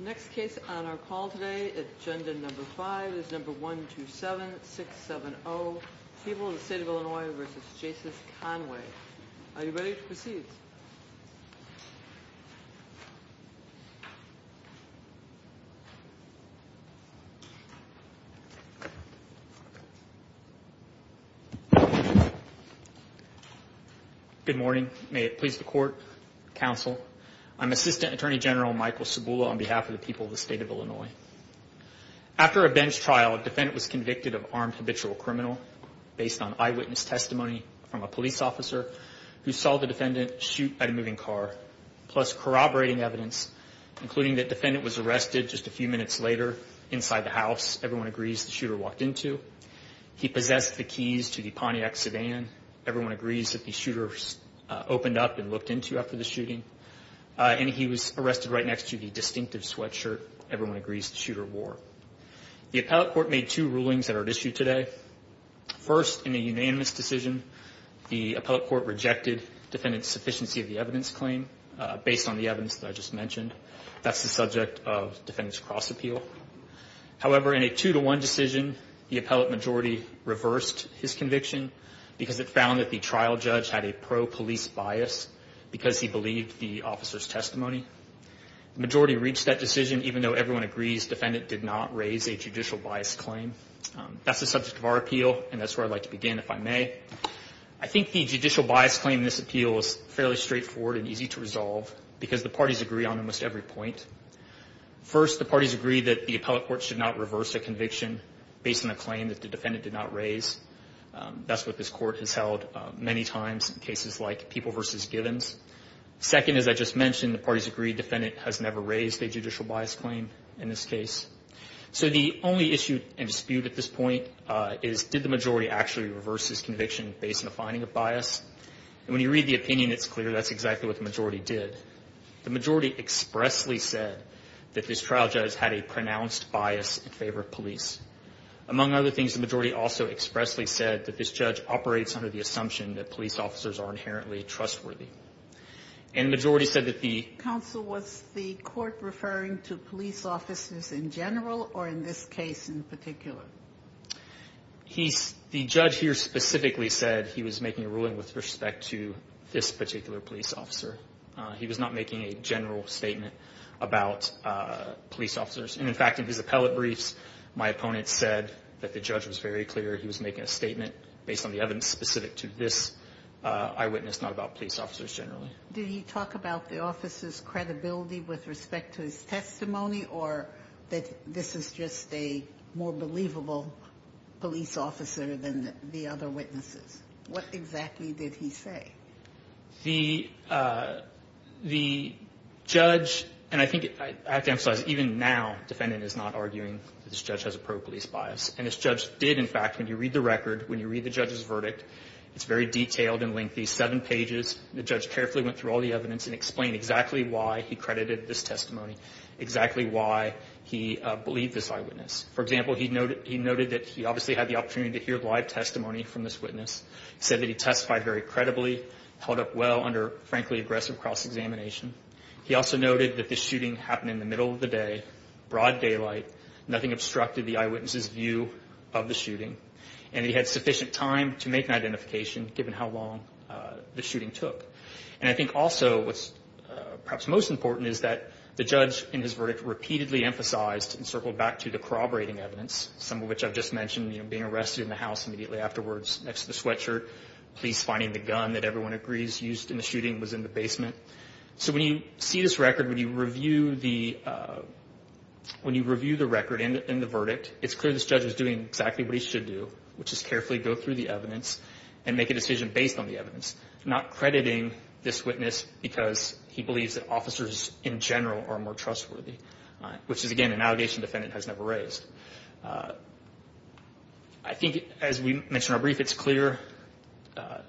Next case on our call today, agenda number five, is number 127-670. People of the State of Illinois v. Jasus Conway. Are you ready to proceed? Good morning. May it please the Court, Counsel, I'm Assistant Attorney General Michael Cibula on behalf of the people of the State of Illinois. After a bench trial, a defendant was convicted of armed habitual criminal based on eyewitness testimony from a police officer who saw the defendant shoot at a moving car, plus corroborating evidence, including that the defendant was arrested just a few minutes later inside the house. Everyone agrees the shooter walked into. He possessed the keys to the Pontiac sedan. Everyone agrees that the shooter opened up and looked into after the shooting. And he was arrested right next to the distinctive sweatshirt. Everyone agrees the shooter wore. The appellate court made two rulings that are at issue today. First, in a unanimous decision, the appellate court rejected defendant's sufficiency of the evidence claim based on the evidence that I just mentioned. That's the subject of defendant's cross appeal. However, in a two-to-one decision, the appellate majority reversed his conviction because it found that the trial judge had a pro-police bias because he believed the officer's testimony. The majority reached that decision even though everyone agrees defendant did not raise a judicial bias claim. That's the subject of our appeal, and that's where I'd like to begin, if I may. I think the judicial bias claim in this appeal is fairly straightforward and easy to resolve because the parties agree on almost every point. First, the parties agree that the appellate court should not reverse a conviction based on a claim that the defendant did not raise. That's what this court has held many times in cases like People v. Givens. Second, as I just mentioned, the parties agree defendant has never raised a judicial bias claim in this case. So the only issue and dispute at this point is did the majority actually reverse his conviction based on a finding of bias? And when you read the opinion, it's clear that's exactly what the majority did. The majority expressly said that this trial judge had a pronounced bias in favor of police. Among other things, the majority also expressly said that this judge operates under the assumption that police officers are inherently trustworthy. And the majority said that the- Counsel, was the court referring to police officers in general or in this case in particular? The judge here specifically said he was making a ruling with respect to this particular police officer. He was not making a general statement about police officers. And in fact, in his appellate briefs, my opponent said that the judge was very clear. He was making a statement based on the evidence specific to this eyewitness, not about police officers generally. Did he talk about the officer's credibility with respect to his testimony or that this is just a more believable police officer than the other witnesses? What exactly did he say? The judge, and I think I have to emphasize even now, defendant is not arguing that this judge has a pro-police bias. And this judge did, in fact, when you read the record, when you read the judge's verdict, it's very detailed and lengthy, seven pages. The judge carefully went through all the evidence and explained exactly why he credited this testimony, exactly why he believed this eyewitness. For example, he noted that he obviously had the opportunity to hear live testimony from this witness, said that he testified very credibly, held up well under, frankly, aggressive cross-examination. He also noted that this shooting happened in the middle of the day, broad daylight. Nothing obstructed the eyewitness's view of the shooting. And he had sufficient time to make an identification given how long the shooting took. And I think also what's perhaps most important is that the judge in his verdict repeatedly emphasized and circled back to the corroborating evidence, some of which I've just mentioned, you know, being arrested in the house immediately afterwards, next to the sweatshirt, police finding the gun that everyone agrees used in the shooting was in the basement. So when you see this record, when you review the record and the verdict, it's clear this judge is doing exactly what he should do, which is carefully go through the evidence and make a decision based on the evidence, not crediting this witness because he believes that officers in general are more trustworthy, which is, again, an allegation the defendant has never raised. I think, as we mentioned in our brief, it's clear the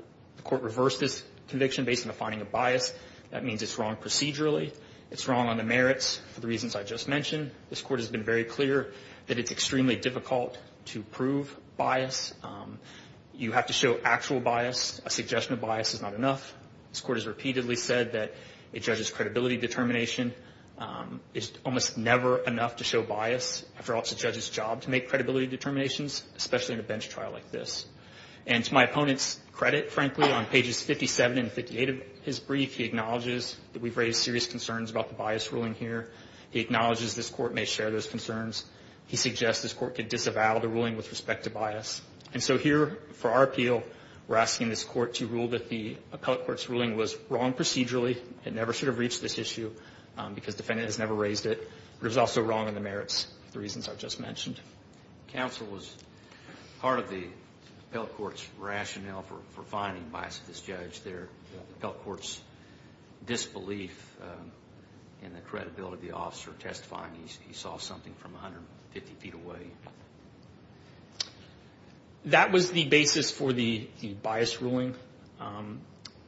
court reversed this conviction based on the finding of bias. That means it's wrong procedurally. It's wrong on the merits for the reasons I just mentioned. This court has been very clear that it's extremely difficult to prove bias. You have to show actual bias. A suggestion of bias is not enough. This court has repeatedly said that a judge's credibility determination is almost never enough to show bias. After all, it's a judge's job to make credibility determinations, especially in a bench trial like this. And to my opponent's credit, frankly, on pages 57 and 58 of his brief, he acknowledges that we've raised serious concerns about the bias ruling here. He acknowledges this court may share those concerns. He suggests this court could disavow the ruling with respect to bias. And so here, for our appeal, we're asking this court to rule that the appellate court's ruling was wrong procedurally. It never should have reached this issue because the defendant has never raised it. It was also wrong on the merits for the reasons I just mentioned. Counsel was part of the appellate court's rationale for finding bias with this judge. The appellate court's disbelief in the credibility of the officer testifying, he saw something from 150 feet away. That was the basis for the bias ruling.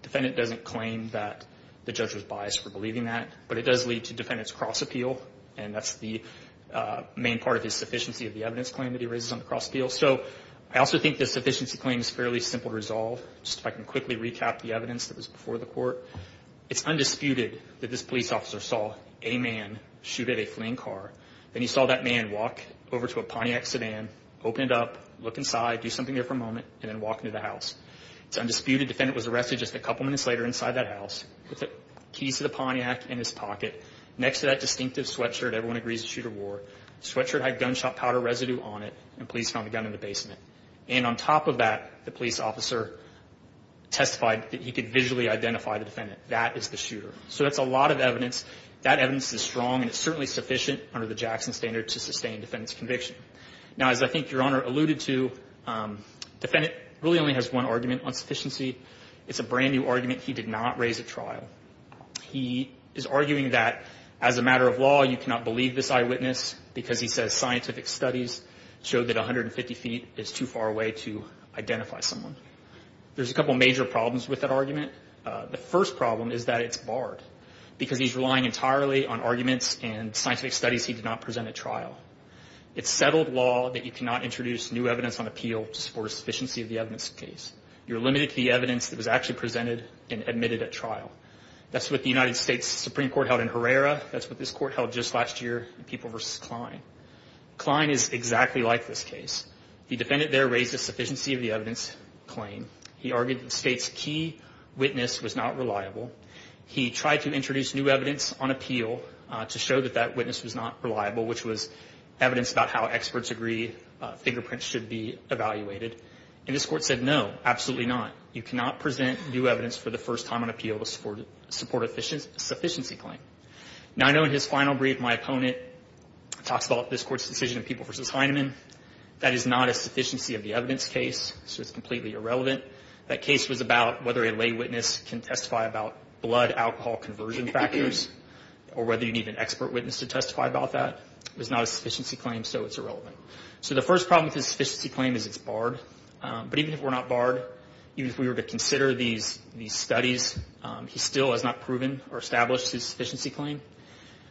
Defendant doesn't claim that the judge was biased for believing that, but it does lead to defendant's cross appeal, and that's the main part of his sufficiency of the evidence claim that he raises on the cross appeal. So I also think the sufficiency claim is fairly simple to resolve. Just if I can quickly recap the evidence that was before the court, it's undisputed that this police officer saw a man shoot at a fleeing car. Then he saw that man walk over to a Pontiac sedan, open it up, look inside, do something there for a moment, and then walk into the house. It's undisputed the defendant was arrested just a couple minutes later inside that house with the keys to the Pontiac in his pocket next to that distinctive sweatshirt, everyone agrees, the shooter wore. Sweatshirt had gunshot powder residue on it, and police found a gun in the basement. And on top of that, the police officer testified that he could visually identify the defendant. That is the shooter. So that's a lot of evidence. That evidence is strong, and it's certainly sufficient under the Jackson standard to sustain defendant's conviction. Now, as I think Your Honor alluded to, defendant really only has one argument on sufficiency. It's a brand-new argument. He did not raise at trial. He is arguing that as a matter of law, you cannot believe this eyewitness because he says scientific studies show that 150 feet is too far away to identify someone. There's a couple major problems with that argument. The first problem is that it's barred because he's relying entirely on arguments and scientific studies he did not present at trial. It's settled law that you cannot introduce new evidence on appeal to support a sufficiency of the evidence case. You're limited to the evidence that was actually presented and admitted at trial. That's what the United States Supreme Court held in Herrera. That's what this court held just last year in People v. Klein. Klein is exactly like this case. The defendant there raised a sufficiency of the evidence claim. He argued that the state's key witness was not reliable. He tried to introduce new evidence on appeal to show that that witness was not reliable, which was evidence about how experts agree fingerprints should be evaluated. And this court said, no, absolutely not. You cannot present new evidence for the first time on appeal to support a sufficiency claim. Now, I know in his final brief, my opponent talks about this court's decision in People v. Heinemann. That is not a sufficiency of the evidence case, so it's completely irrelevant. That case was about whether a lay witness can testify about blood-alcohol conversion factors or whether you need an expert witness to testify about that. It was not a sufficiency claim, so it's irrelevant. So the first problem with his sufficiency claim is it's barred. But even if we're not barred, even if we were to consider these studies, he still has not proven or established his sufficiency claim.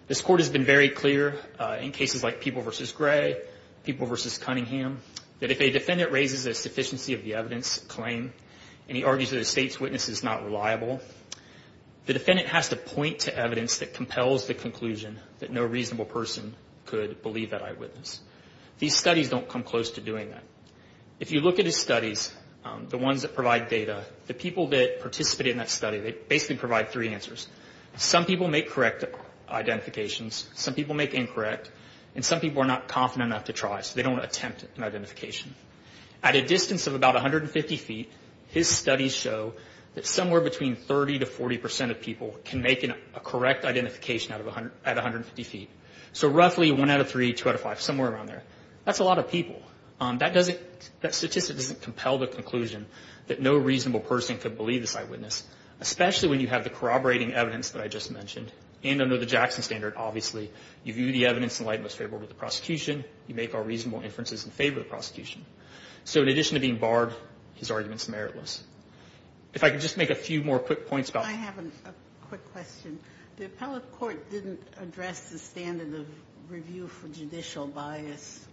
This court has been very clear in cases like People v. Gray, People v. Cunningham, that if a defendant raises a sufficiency of the evidence claim and he argues that the state's witness is not reliable, the defendant has to point to evidence that compels the conclusion that no reasonable person could believe that eyewitness. These studies don't come close to doing that. If you look at his studies, the ones that provide data, the people that participated in that study, they basically provide three answers. Some people make correct identifications, some people make incorrect, and some people are not confident enough to try, so they don't attempt an identification. At a distance of about 150 feet, his studies show that somewhere between 30 to 40 percent of people can make a correct identification at 150 feet. So roughly one out of three, two out of five, somewhere around there. That's a lot of people. That statistic doesn't compel the conclusion that no reasonable person could believe the eyewitness, especially when you have the corroborating evidence that I just mentioned, and under the Jackson standard, obviously. You view the evidence in light and most favorable to the prosecution. You make all reasonable inferences in favor of the prosecution. So in addition to being barred, his argument's meritless. If I could just make a few more quick points about... I have a quick question. The appellate court didn't address the standard of review for judicial bias.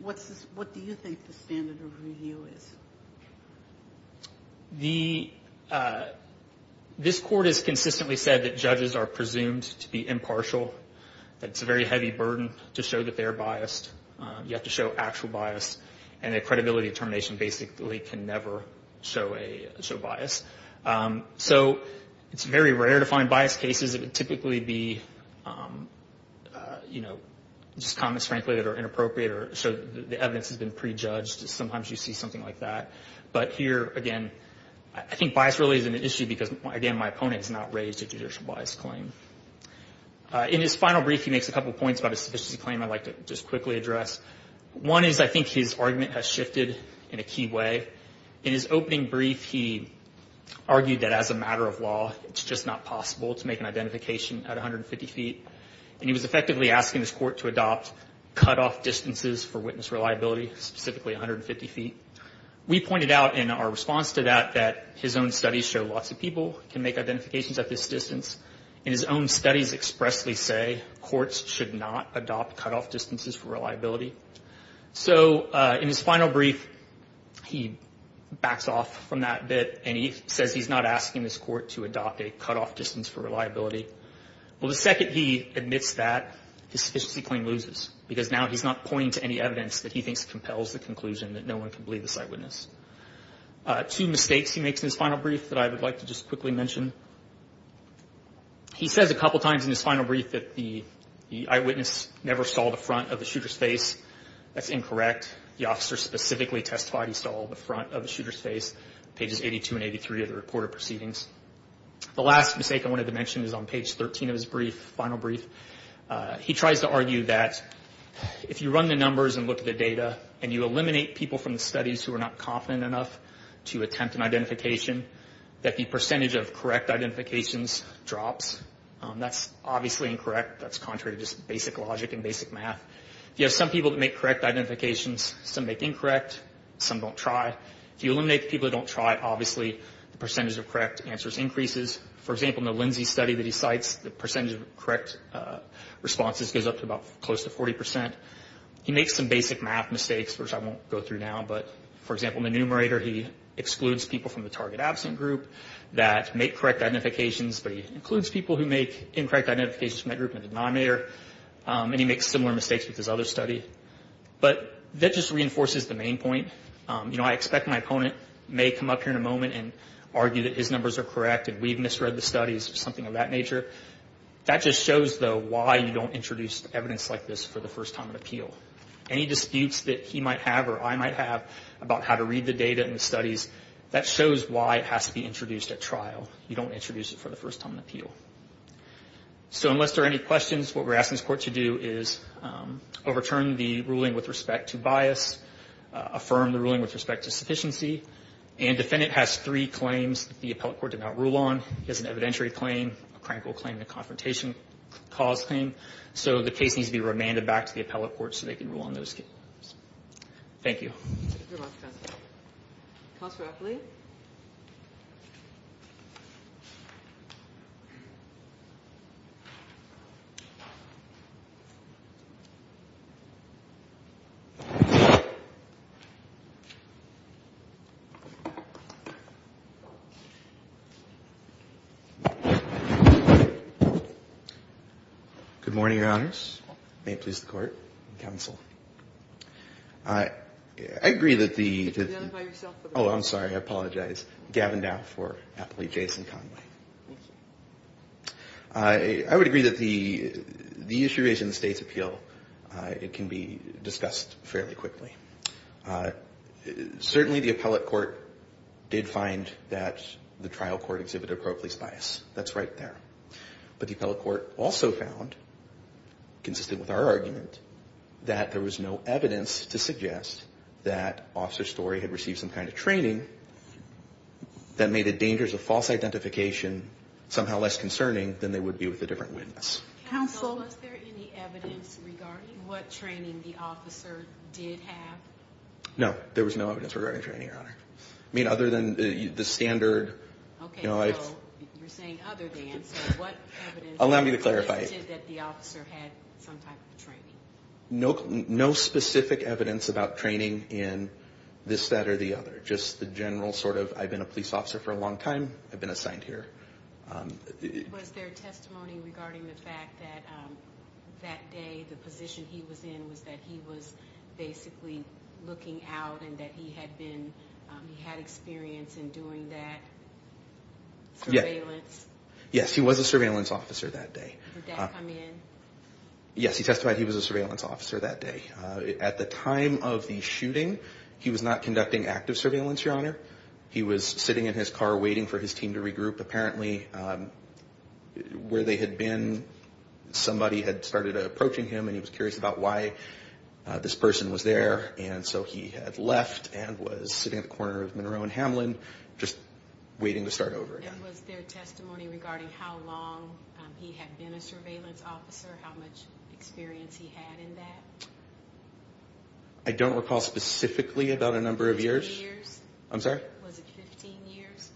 What do you think the standard of review is? This court has consistently said that judges are presumed to be impartial, that it's a very heavy burden to show that they're biased. You have to show actual bias, and a credibility determination basically can never show bias. So it's very rare to find bias cases. It would typically be just comments, frankly, that are inappropriate or show that the evidence has been prejudged. Sometimes you see something like that. But here, again, I think bias really is an issue because, again, my opponent has not raised a judicial bias claim. In his final brief, he makes a couple points about a sufficiency claim I'd like to just quickly address. One is I think his argument has shifted in a key way. In his opening brief, he argued that as a matter of law, it's just not possible to make an identification at 150 feet, and he was effectively asking his court to adopt cutoff distances for witness reliability, specifically 150 feet. We pointed out in our response to that that his own studies show lots of people can make identifications at this distance. And his own studies expressly say courts should not adopt cutoff distances for reliability. So in his final brief, he backs off from that bit, and he says he's not asking this court to adopt a cutoff distance for reliability. Well, the second he admits that, his sufficiency claim loses because now he's not pointing to any evidence that he thinks compels the conclusion that no one can believe this eyewitness. Two mistakes he makes in his final brief that I would like to just quickly mention. He says a couple times in his final brief that the eyewitness never saw the front of the shooter's face. That's incorrect. The officer specifically testified he saw the front of the shooter's face, pages 82 and 83 of the reported proceedings. The last mistake I wanted to mention is on page 13 of his brief, final brief. He tries to argue that if you run the numbers and look at the data and you eliminate people from the studies who are not confident enough to attempt an identification, that the percentage of correct identifications drops. That's obviously incorrect. That's contrary to just basic logic and basic math. You have some people that make correct identifications. Some make incorrect. Some don't try. If you eliminate the people that don't try, obviously the percentage of correct answers increases. For example, in the Lindsay study that he cites, the percentage of correct responses goes up to about close to 40%. He makes some basic math mistakes, which I won't go through now. But, for example, in the numerator, he excludes people from the target absent group that make correct identifications, but he includes people who make incorrect identifications from that group in the denominator. And he makes similar mistakes with his other study. But that just reinforces the main point. You know, I expect my opponent may come up here in a moment and argue that his numbers are correct and we've misread the studies or something of that nature. That just shows, though, why you don't introduce evidence like this for the first time in appeal. Any disputes that he might have or I might have about how to read the data in the studies, that shows why it has to be introduced at trial. You don't introduce it for the first time in appeal. So unless there are any questions, what we're asking this Court to do is overturn the ruling with respect to bias, affirm the ruling with respect to sufficiency, and defendant has three claims the appellate court did not rule on. He has an evidentiary claim, a crankle claim, and a confrontation cause claim. So the case needs to be remanded back to the appellate court so they can rule on those. Thank you. Counselor Apley. Good morning, Your Honors. May it please the Court. Counsel. I agree that the... Identify yourself. Oh, I'm sorry. I apologize. Gavin Dow for Apley, Jason Conway. Thank you. I would agree that the issue is in the State's appeal. It can be discussed fairly quickly. Certainly the appellate court did find that the trial court exhibited a pro-police bias. That's right there. But the appellate court also found, consistent with our argument, that there was no evidence to suggest that Officer Story had received some kind of training that made the dangers of false identification somehow less concerning than they would be with a different witness. Counsel, was there any evidence regarding what training the officer did have? No, there was no evidence regarding training, Your Honor. I mean, other than the standard... You're saying other than, so what evidence... Allow me to clarify. ...suggested that the officer had some type of training? No specific evidence about training in this, that, or the other. Just the general sort of, I've been a police officer for a long time, I've been assigned here. Was there testimony regarding the fact that that day the position he was in was that he was basically looking out and that he had experience in doing that surveillance? Yes, he was a surveillance officer that day. Did that come in? Yes, he testified he was a surveillance officer that day. At the time of the shooting, he was not conducting active surveillance, Your Honor. He was sitting in his car waiting for his team to regroup. Apparently, where they had been, somebody had started approaching him and he was curious about why this person was there. And so he had left and was sitting at the corner of Monroe and Hamlin just waiting to start over again. And was there testimony regarding how long he had been a surveillance officer, how much experience he had in that? I don't recall specifically about a number of years. 15 years? I'm sorry? Was it 15 years?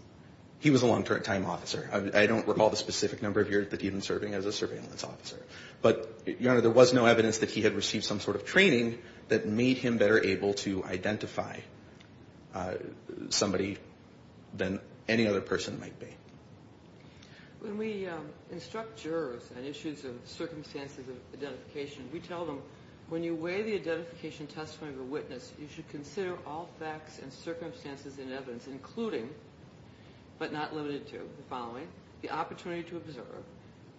He was a long-term time officer. I don't recall the specific number of years that he had been serving as a surveillance officer. But, Your Honor, there was no evidence that he had received some sort of training that made him better able to identify somebody than any other person might be. When we instruct jurors on issues of circumstances of identification, we tell them when you weigh the identification testimony of a witness, you should consider all facts and circumstances in evidence, including, but not limited to the following, the opportunity to observe,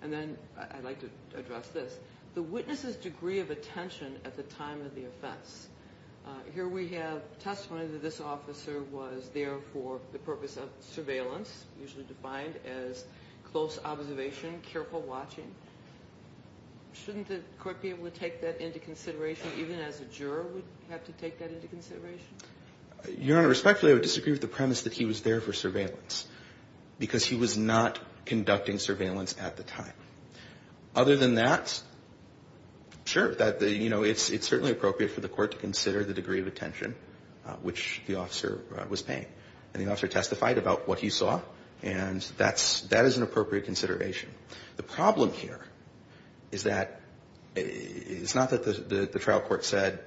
and then I'd like to address this, the witness's degree of attention at the time of the offense. Here we have testimony that this officer was there for the purpose of surveillance, usually defined as close observation, careful watching. Shouldn't the court be able to take that into consideration, even as a juror would have to take that into consideration? Your Honor, respectfully, I would disagree with the premise that he was there for surveillance because he was not conducting surveillance at the time. Other than that, sure, it's certainly appropriate for the court to consider the degree of attention which the officer was paying, and the officer testified about what he saw, and that is an appropriate consideration. The problem here is that it's not that the trial court said,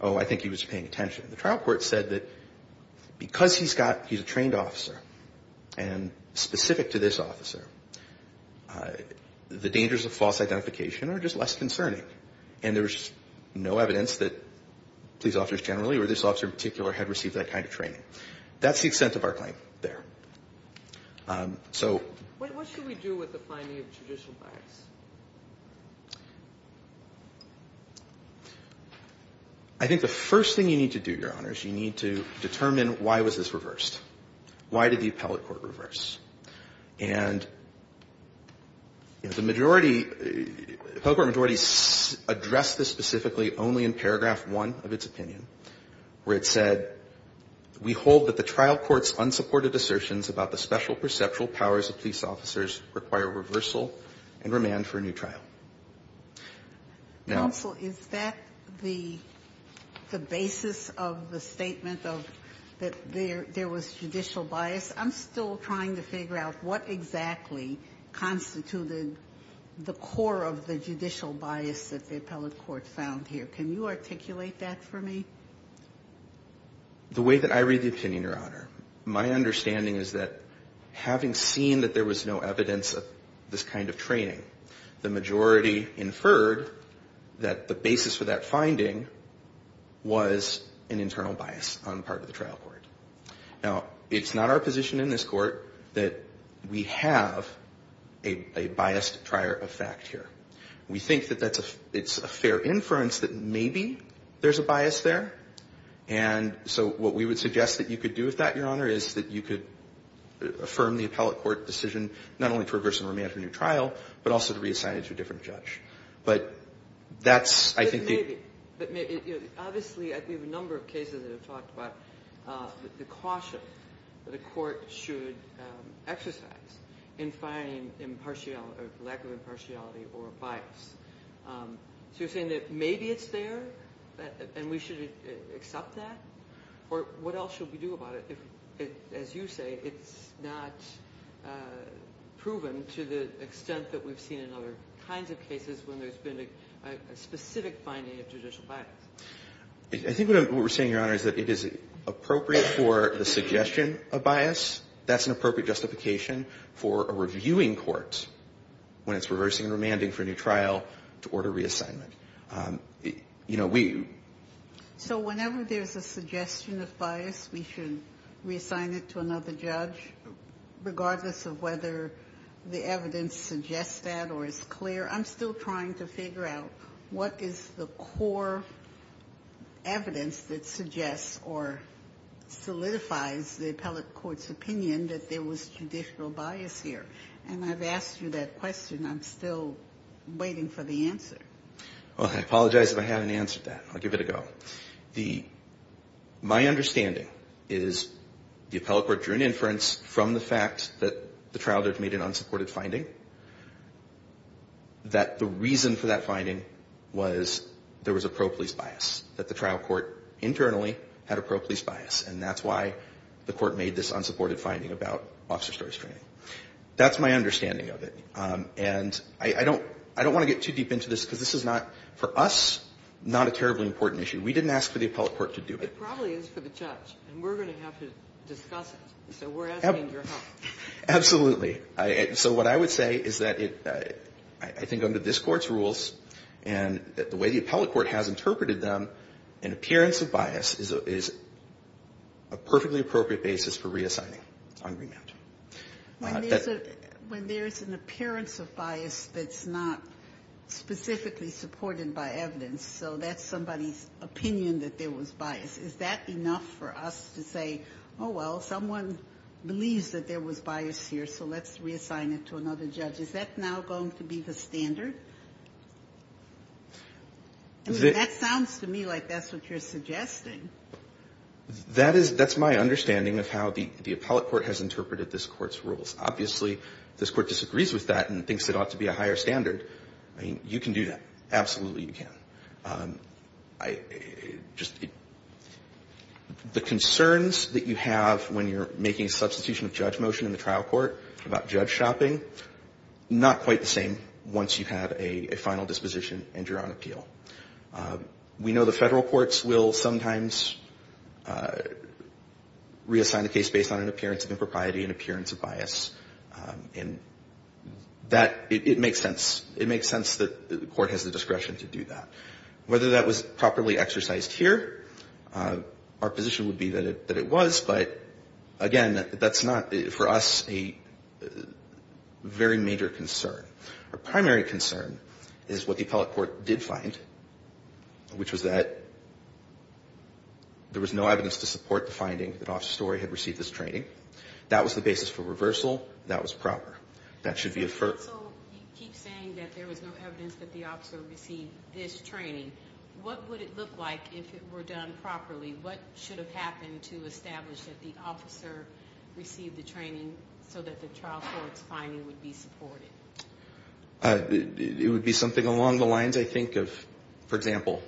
oh, I think he was paying attention. The trial court said that because he's a trained officer and specific to this officer, the dangers of false identification are just less concerning, and there's no evidence that police officers generally or this officer in particular had received that kind of training. That's the extent of our claim there. What should we do with the finding of judicial bias? I think the first thing you need to do, Your Honors, you need to determine why was this reversed. Why did the appellate court reverse? And the majority, the appellate court majority addressed this specifically only in paragraph 1 of its opinion, where it said, we hold that the trial court's unsupported assertions about the special perceptual powers of police officers require reversal and remand for a new trial. Now ---- Counsel, is that the basis of the statement of that there was judicial bias? I'm still trying to figure out what exactly constituted the core of the judicial bias that the appellate court found here. Can you articulate that for me? The way that I read the opinion, Your Honor, my understanding is that having seen that there was no evidence of this kind of training, the majority inferred that the basis for that finding was an internal bias on the part of the trial court. Now, it's not our position in this court that we have a biased prior effect here. We think that it's a fair inference that maybe there's a bias there, and so what we would suggest that you could do with that, Your Honor, is that you could affirm the appellate court decision not only for reversal and remand for a new trial, but also to reassign it to a different judge. But that's, I think the ---- But maybe. Obviously, we have a number of cases that have talked about the caution that a court should exercise in finding impartiality or lack of impartiality or bias. So you're saying that maybe it's there and we should accept that? Or what else should we do about it if, as you say, it's not proven to the extent that we've seen in other kinds of cases when there's been a specific finding of judicial bias? I think what we're saying, Your Honor, is that it is appropriate for the suggestion of bias. That's an appropriate justification for a reviewing court when it's reversing and remanding for a new trial to order reassignment. You know, we ---- So whenever there's a suggestion of bias, we should reassign it to another judge, regardless of whether the evidence suggests that or is clear? I'm still trying to figure out what is the core evidence that suggests or solidifies the appellate court's opinion that there was judicial bias here. And I've asked you that question. I'm still waiting for the answer. Well, I apologize if I haven't answered that. I'll give it a go. The ---- My understanding is the appellate court drew an inference from the fact that the trial judge made an unsupported finding that the reason for that finding was there was a pro-police bias, that the trial court internally had a pro-police bias. And that's why the court made this unsupported finding about officer stories training. That's my understanding of it. And I don't want to get too deep into this because this is not, for us, not a terribly important issue. We didn't ask for the appellate court to do it. It probably is for the judge. And we're going to have to discuss it. So we're asking your help. Absolutely. So what I would say is that I think under this Court's rules and the way the appellate court has interpreted them, an appearance of bias is a perfectly appropriate basis for reassigning on remand. When there's an appearance of bias that's not specifically supported by evidence, so that's somebody's opinion that there was bias, is that enough for us to say, oh, well, someone believes that there was bias here, so let's reassign it to another judge? Is that now going to be the standard? I mean, that sounds to me like that's what you're suggesting. That is my understanding of how the appellate court has interpreted this Court's rules. Obviously, this Court disagrees with that and thinks it ought to be a higher standard. I mean, you can do that. Absolutely, you can. The concerns that you have when you're making a substitution of judge motion in the trial court about judge shopping, not quite the same once you have a final disposition and you're on appeal. We know the Federal courts will sometimes reassign a case based on an appearance of impropriety, an appearance of bias. And that, it makes sense. It makes sense that the court has the discretion to do that. Whether that was properly exercised here, our position would be that it was. But, again, that's not, for us, a very major concern. Our primary concern is what the appellate court did find, which was that there was no evidence to support the finding that Officer Story had received this training. That was the basis for reversal. That was proper. That should be affirmed. So you keep saying that there was no evidence that the officer received this training. What would it look like if it were done properly? What should have happened to establish that the officer received the training so that the trial court's finding would be supported? It would be something along the lines, I think, of, for example,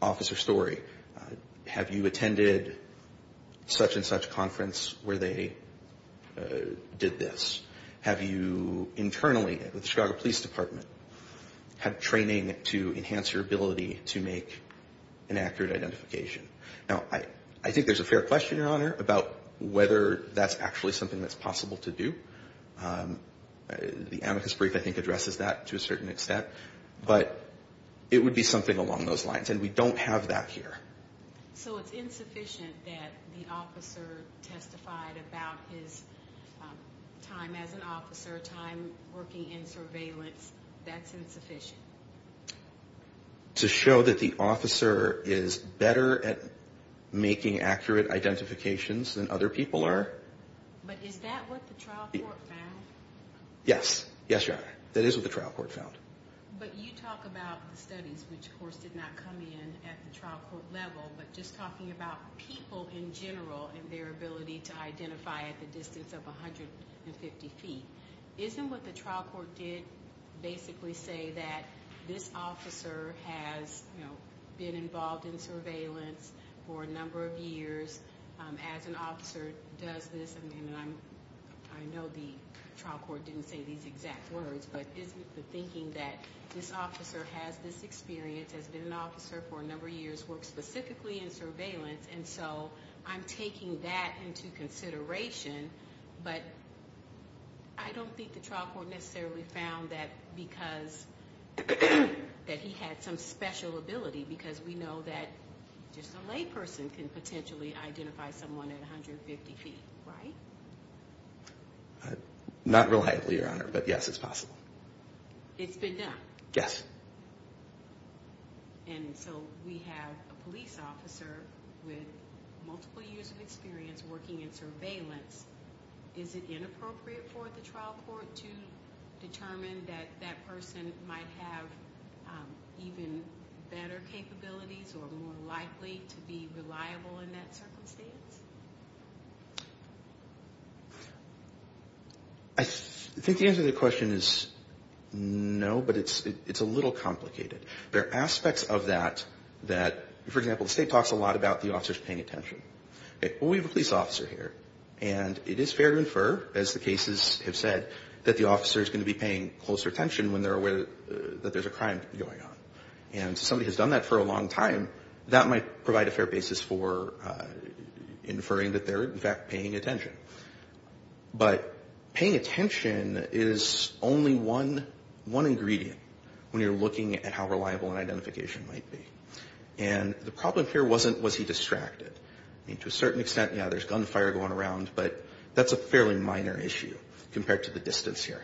Officer Story, have you attended such and such conference where they did this? Have you internally, with the Chicago Police Department, had training to enhance your ability to make an accurate identification? Now, I think there's a fair question, Your Honor, about whether that's actually something that's possible to do. The amicus brief, I think, addresses that to a certain extent. But it would be something along those lines. And we don't have that here. So it's insufficient that the officer testified about his time as an officer, time working in surveillance. That's insufficient? To show that the officer is better at making accurate identifications than other people are. But is that what the trial court found? Yes. Yes, Your Honor. That is what the trial court found. But you talk about the studies, which, of course, did not come in at the trial court level, but just talking about people in general and their ability to identify at the distance of 150 feet. Isn't what the trial court did basically say that this officer has, you know, been involved in surveillance for a number of years? As an officer does this? I mean, I know the trial court didn't say these exact words, but isn't the thinking that this officer has this experience, has been an officer for a number of years, works specifically in surveillance. And so I'm taking that into consideration. But I don't think the trial court necessarily found that because that he had some special ability. Because we know that just a lay person can potentially identify someone at 150 feet, right? Not reliably, Your Honor, but yes, it's possible. It's been done? Yes. And so we have a police officer with multiple years of experience working in surveillance. Is it inappropriate for the trial court to determine that that person might have even better capabilities or more likely to be reliable in that circumstance? I think the answer to the question is no, but it's a little complicated. There are aspects of that that, for example, the state talks a lot about the officers paying attention. Well, we have a police officer here. And it is fair to infer, as the cases have said, that the officer is going to be paying closer attention when they're aware that there's a crime going on. And if somebody has done that for a long time, that might provide a fair basis for inferring that they're, in fact, paying attention. But paying attention is only one ingredient when you're looking at how reliable an identification might be. And the problem here wasn't was he distracted. I mean, to a certain extent, yeah, there's gunfire going around. But that's a fairly minor issue compared to the distance here.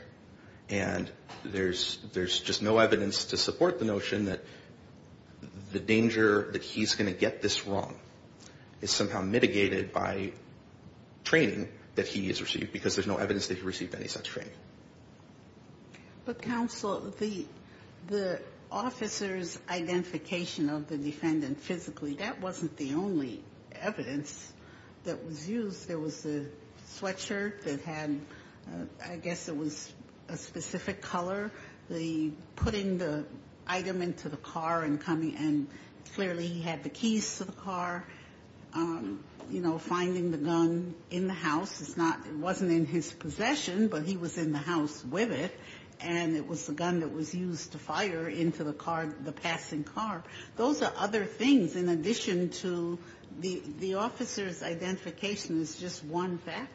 And there's just no evidence to support the notion that the danger that he's going to get this wrong is somehow mitigated by training that he has received because there's no evidence that he received any such training. But, counsel, the officer's identification of the defendant physically, that wasn't the only evidence that was used. There was the sweatshirt that had, I guess it was a specific color. The putting the item into the car and coming and clearly he had the keys to the car. You know, finding the gun in the house. It's not, it wasn't in his possession, but he was in the house with it. And it was the gun that was used to fire into the car, the passing car. Those are other things in addition to the officer's identification is just one factor.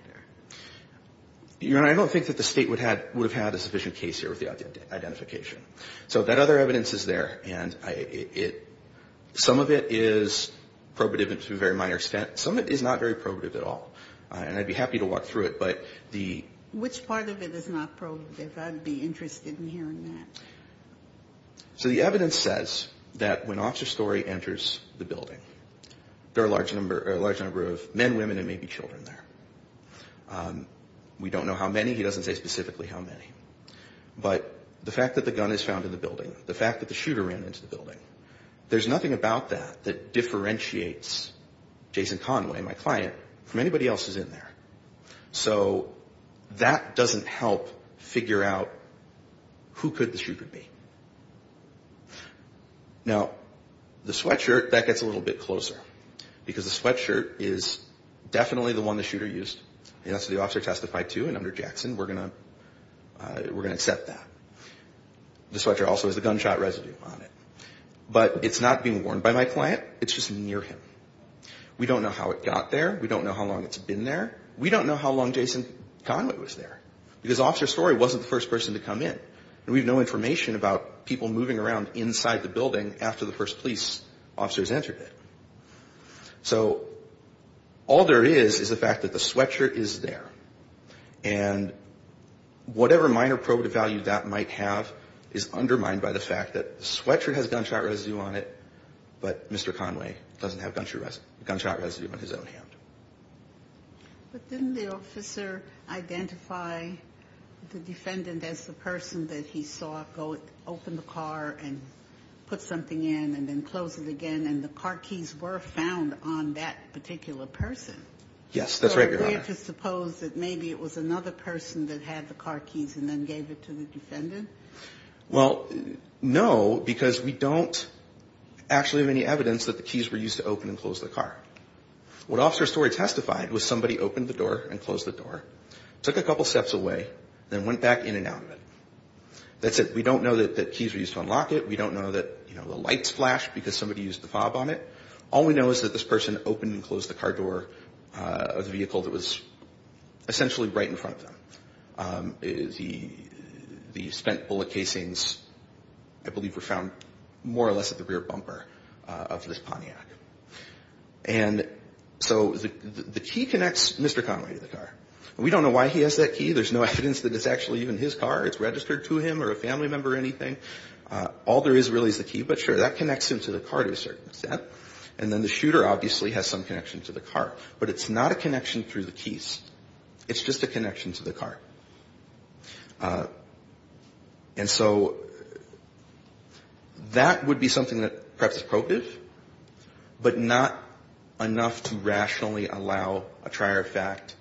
You know, I don't think that the State would have had a sufficient case here with the identification. So that other evidence is there. And some of it is probative to a very minor extent. Some of it is not very probative at all. And I'd be happy to walk through it. But the ---- Which part of it is not probative? I'd be interested in hearing that. So the evidence says that when Officer Story enters the building, there are a large number of men, women and maybe children there. We don't know how many. He doesn't say specifically how many. But the fact that the gun is found in the building, the fact that the shooter ran into the building, there's nothing about that that differentiates Jason Conway, my client, from anybody else that's in there. So that doesn't help figure out who could the shooter be. Now, the sweatshirt, that gets a little bit closer. Because the sweatshirt is definitely the one the shooter used. And that's what the officer testified to. And under Jackson, we're going to accept that. The sweatshirt also has the gunshot residue on it. But it's not being worn by my client. It's just near him. We don't know how it got there. We don't know how long it's been there. We don't know how long Jason Conway was there. Because Officer Story wasn't the first person to come in. And we have no information about people moving around inside the building after the first police officers entered it. So all there is is the fact that the sweatshirt is there. And whatever minor probative value that might have is undermined by the fact that the sweatshirt has gunshot residue on it, But didn't the officer identify the defendant as the person that he saw go open the car and put something in and then close it again? And the car keys were found on that particular person. Yes, that's right, Your Honor. So we have to suppose that maybe it was another person that had the car keys and then gave it to the defendant? Well, no, because we don't actually have any evidence that the keys were used to open and close the car. What Officer Story testified was somebody opened the door and closed the door, took a couple steps away, then went back in and out of it. That's it. We don't know that the keys were used to unlock it. We don't know that the lights flashed because somebody used the fob on it. All we know is that this person opened and closed the car door of the vehicle that was essentially right in front of them. The spent bullet casings, I believe, were found more or less at the rear bumper of this Pontiac. And so the key connects Mr. Conway to the car. We don't know why he has that key. There's no evidence that it's actually even his car. It's registered to him or a family member or anything. All there is really is the key. But sure, that connects him to the car to a certain extent. And then the shooter obviously has some connection to the car. But it's not a connection through the keys. It's just a connection to the car. And so that would be something that perhaps is probative, but not enough to rationally allow a trier of fact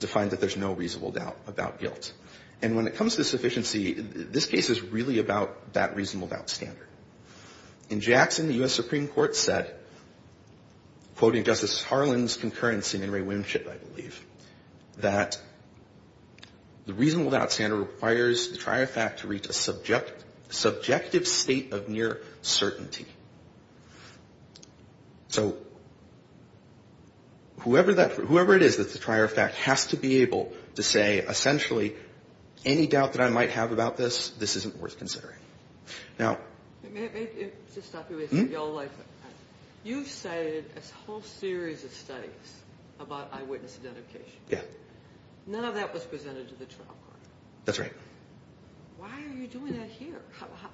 to find that there's no reasonable doubt about guilt. And when it comes to sufficiency, this case is really about that reasonable doubt standard. In Jackson, the U.S. Supreme Court said, quoting Justice Harlan's concurrency in In re Winship, I believe, that the reasonable doubt standard requires the trier of fact to reach a subjective state of near certainty. So whoever it is that the trier of fact has to be able to say, essentially, any doubt that I might have about this, this isn't worth considering. Now you've cited a whole series of studies about eyewitness identification. None of that was presented to the trial court. That's right. Why are you doing that here?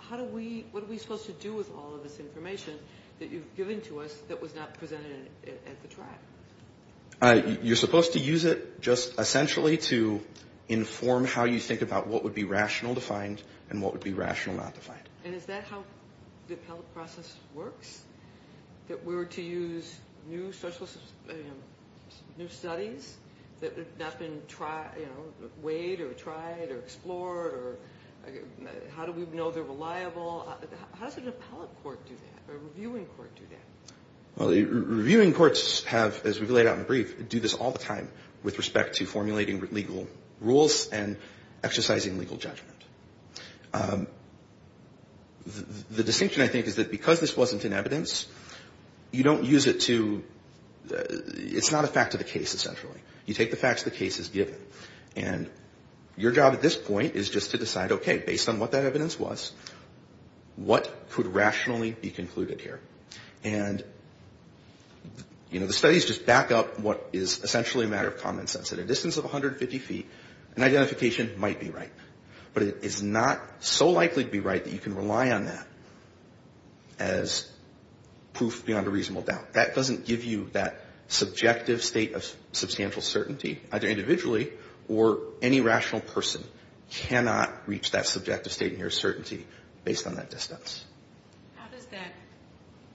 What are we supposed to do with all of this information that you've given to us that was not presented at the trial? You're supposed to use it just essentially to inform how you think about what would be rational to find and what would be rational not to find. And is that how the appellate process works? That we were to use new studies that have not been weighed or tried or explored? How do we know they're reliable? How does an appellate court do that, a reviewing court do that? Well, reviewing courts have, as we've laid out in the brief, do this all the time with respect to formulating legal rules and exercising legal judgment. The distinction, I think, is that because this wasn't in evidence, you don't use it to – it's not a fact of the case, essentially. You take the facts the case has given. And your job at this point is just to decide, okay, based on what that evidence was, what could rationally be concluded here? And, you know, the studies just back up what is essentially a matter of common sense. At a distance of 150 feet, an identification might be right. But it is not so likely to be right that you can rely on that as proof beyond a reasonable doubt. That doesn't give you that subjective state of substantial certainty, either individually or any rational person, cannot reach that subjective state in your certainty based on that distance. How does that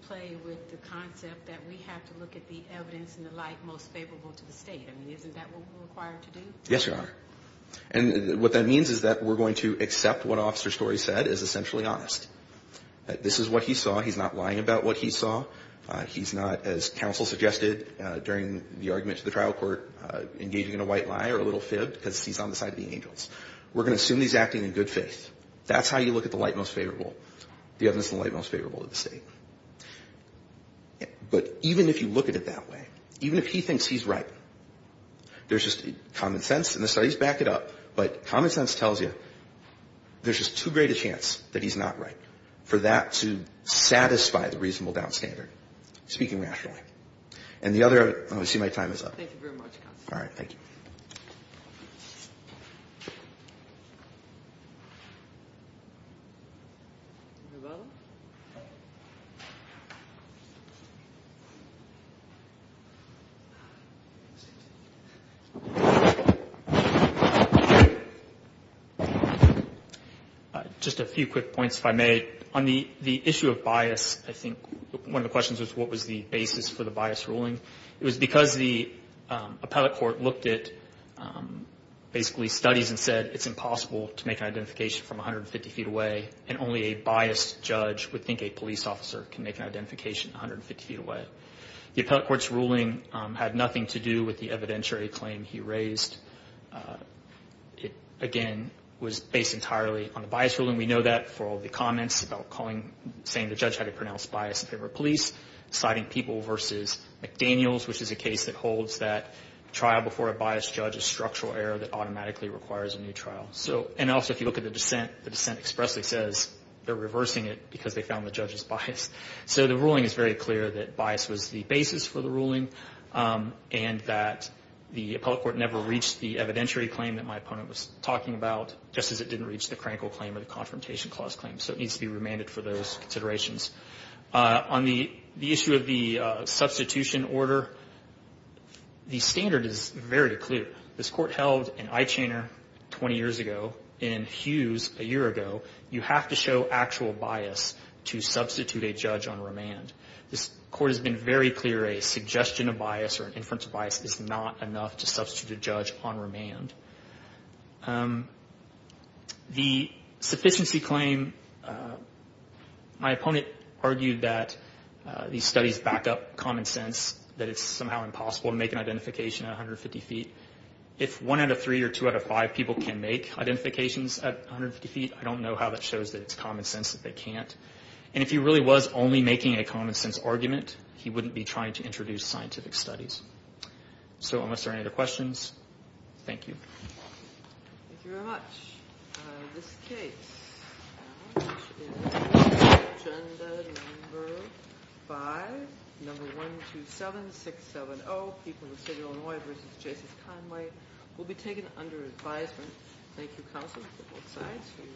play with the concept that we have to look at the evidence and the light most favorable to the state? I mean, isn't that what we're required to do? Yes, Your Honor. And what that means is that we're going to accept what Officer Story said as essentially honest. This is what he saw. He's not lying about what he saw. He's not, as counsel suggested during the argument to the trial court, engaging in a white lie or a little fib because he's on the side of the angels. We're going to assume he's acting in good faith. That's how you look at the light most favorable, the evidence and the light most favorable to the state. But even if you look at it that way, even if he thinks he's right, there's just common sense. And the studies back it up. But common sense tells you there's just too great a chance that he's not right for that to satisfy the reasonable doubt standard, speaking rationally. And the other – I see my time is up. Thank you very much, counsel. All right. Thank you. Just a few quick points, if I may. On the issue of bias, I think one of the questions was what was the basis for the bias ruling. It was because the appellate court looked at basically studies and said it's impossible to make an identification from 150 feet away, and only a biased judge would think a police officer can make an identification 150 feet away. The appellate court's ruling had nothing to do with the evidentiary claim he raised. It, again, was based entirely on the bias ruling. We know that for all the comments about calling – saying the judge had a pronounced bias in favor of police, citing people versus McDaniels, which is a case that holds that trial before a biased judge is structural error that automatically requires a new trial. So – and also if you look at the dissent, the dissent expressly says they're reversing it because they found the judge's bias. So the ruling is very clear that bias was the basis for the ruling, and that the appellate court never reached the evidentiary claim that my opponent was talking about, just as it didn't reach the Crankle claim or the Confrontation Clause claim. So it needs to be remanded for those considerations. On the issue of the substitution order, the standard is very clear. This court held an eye-chainer 20 years ago in Hughes a year ago. You have to show actual bias to substitute a judge on remand. This court has been very clear a suggestion of bias or an inference of bias is not enough to substitute a judge on remand. The sufficiency claim, my opponent argued that these studies back up common sense, that it's somehow impossible to make an identification at 150 feet. If one out of three or two out of five people can make identifications at 150 feet, I don't know how that shows that it's common sense that they can't. And if he really was only making a common sense argument, he wouldn't be trying to introduce scientific studies. So unless there are any other questions, thank you.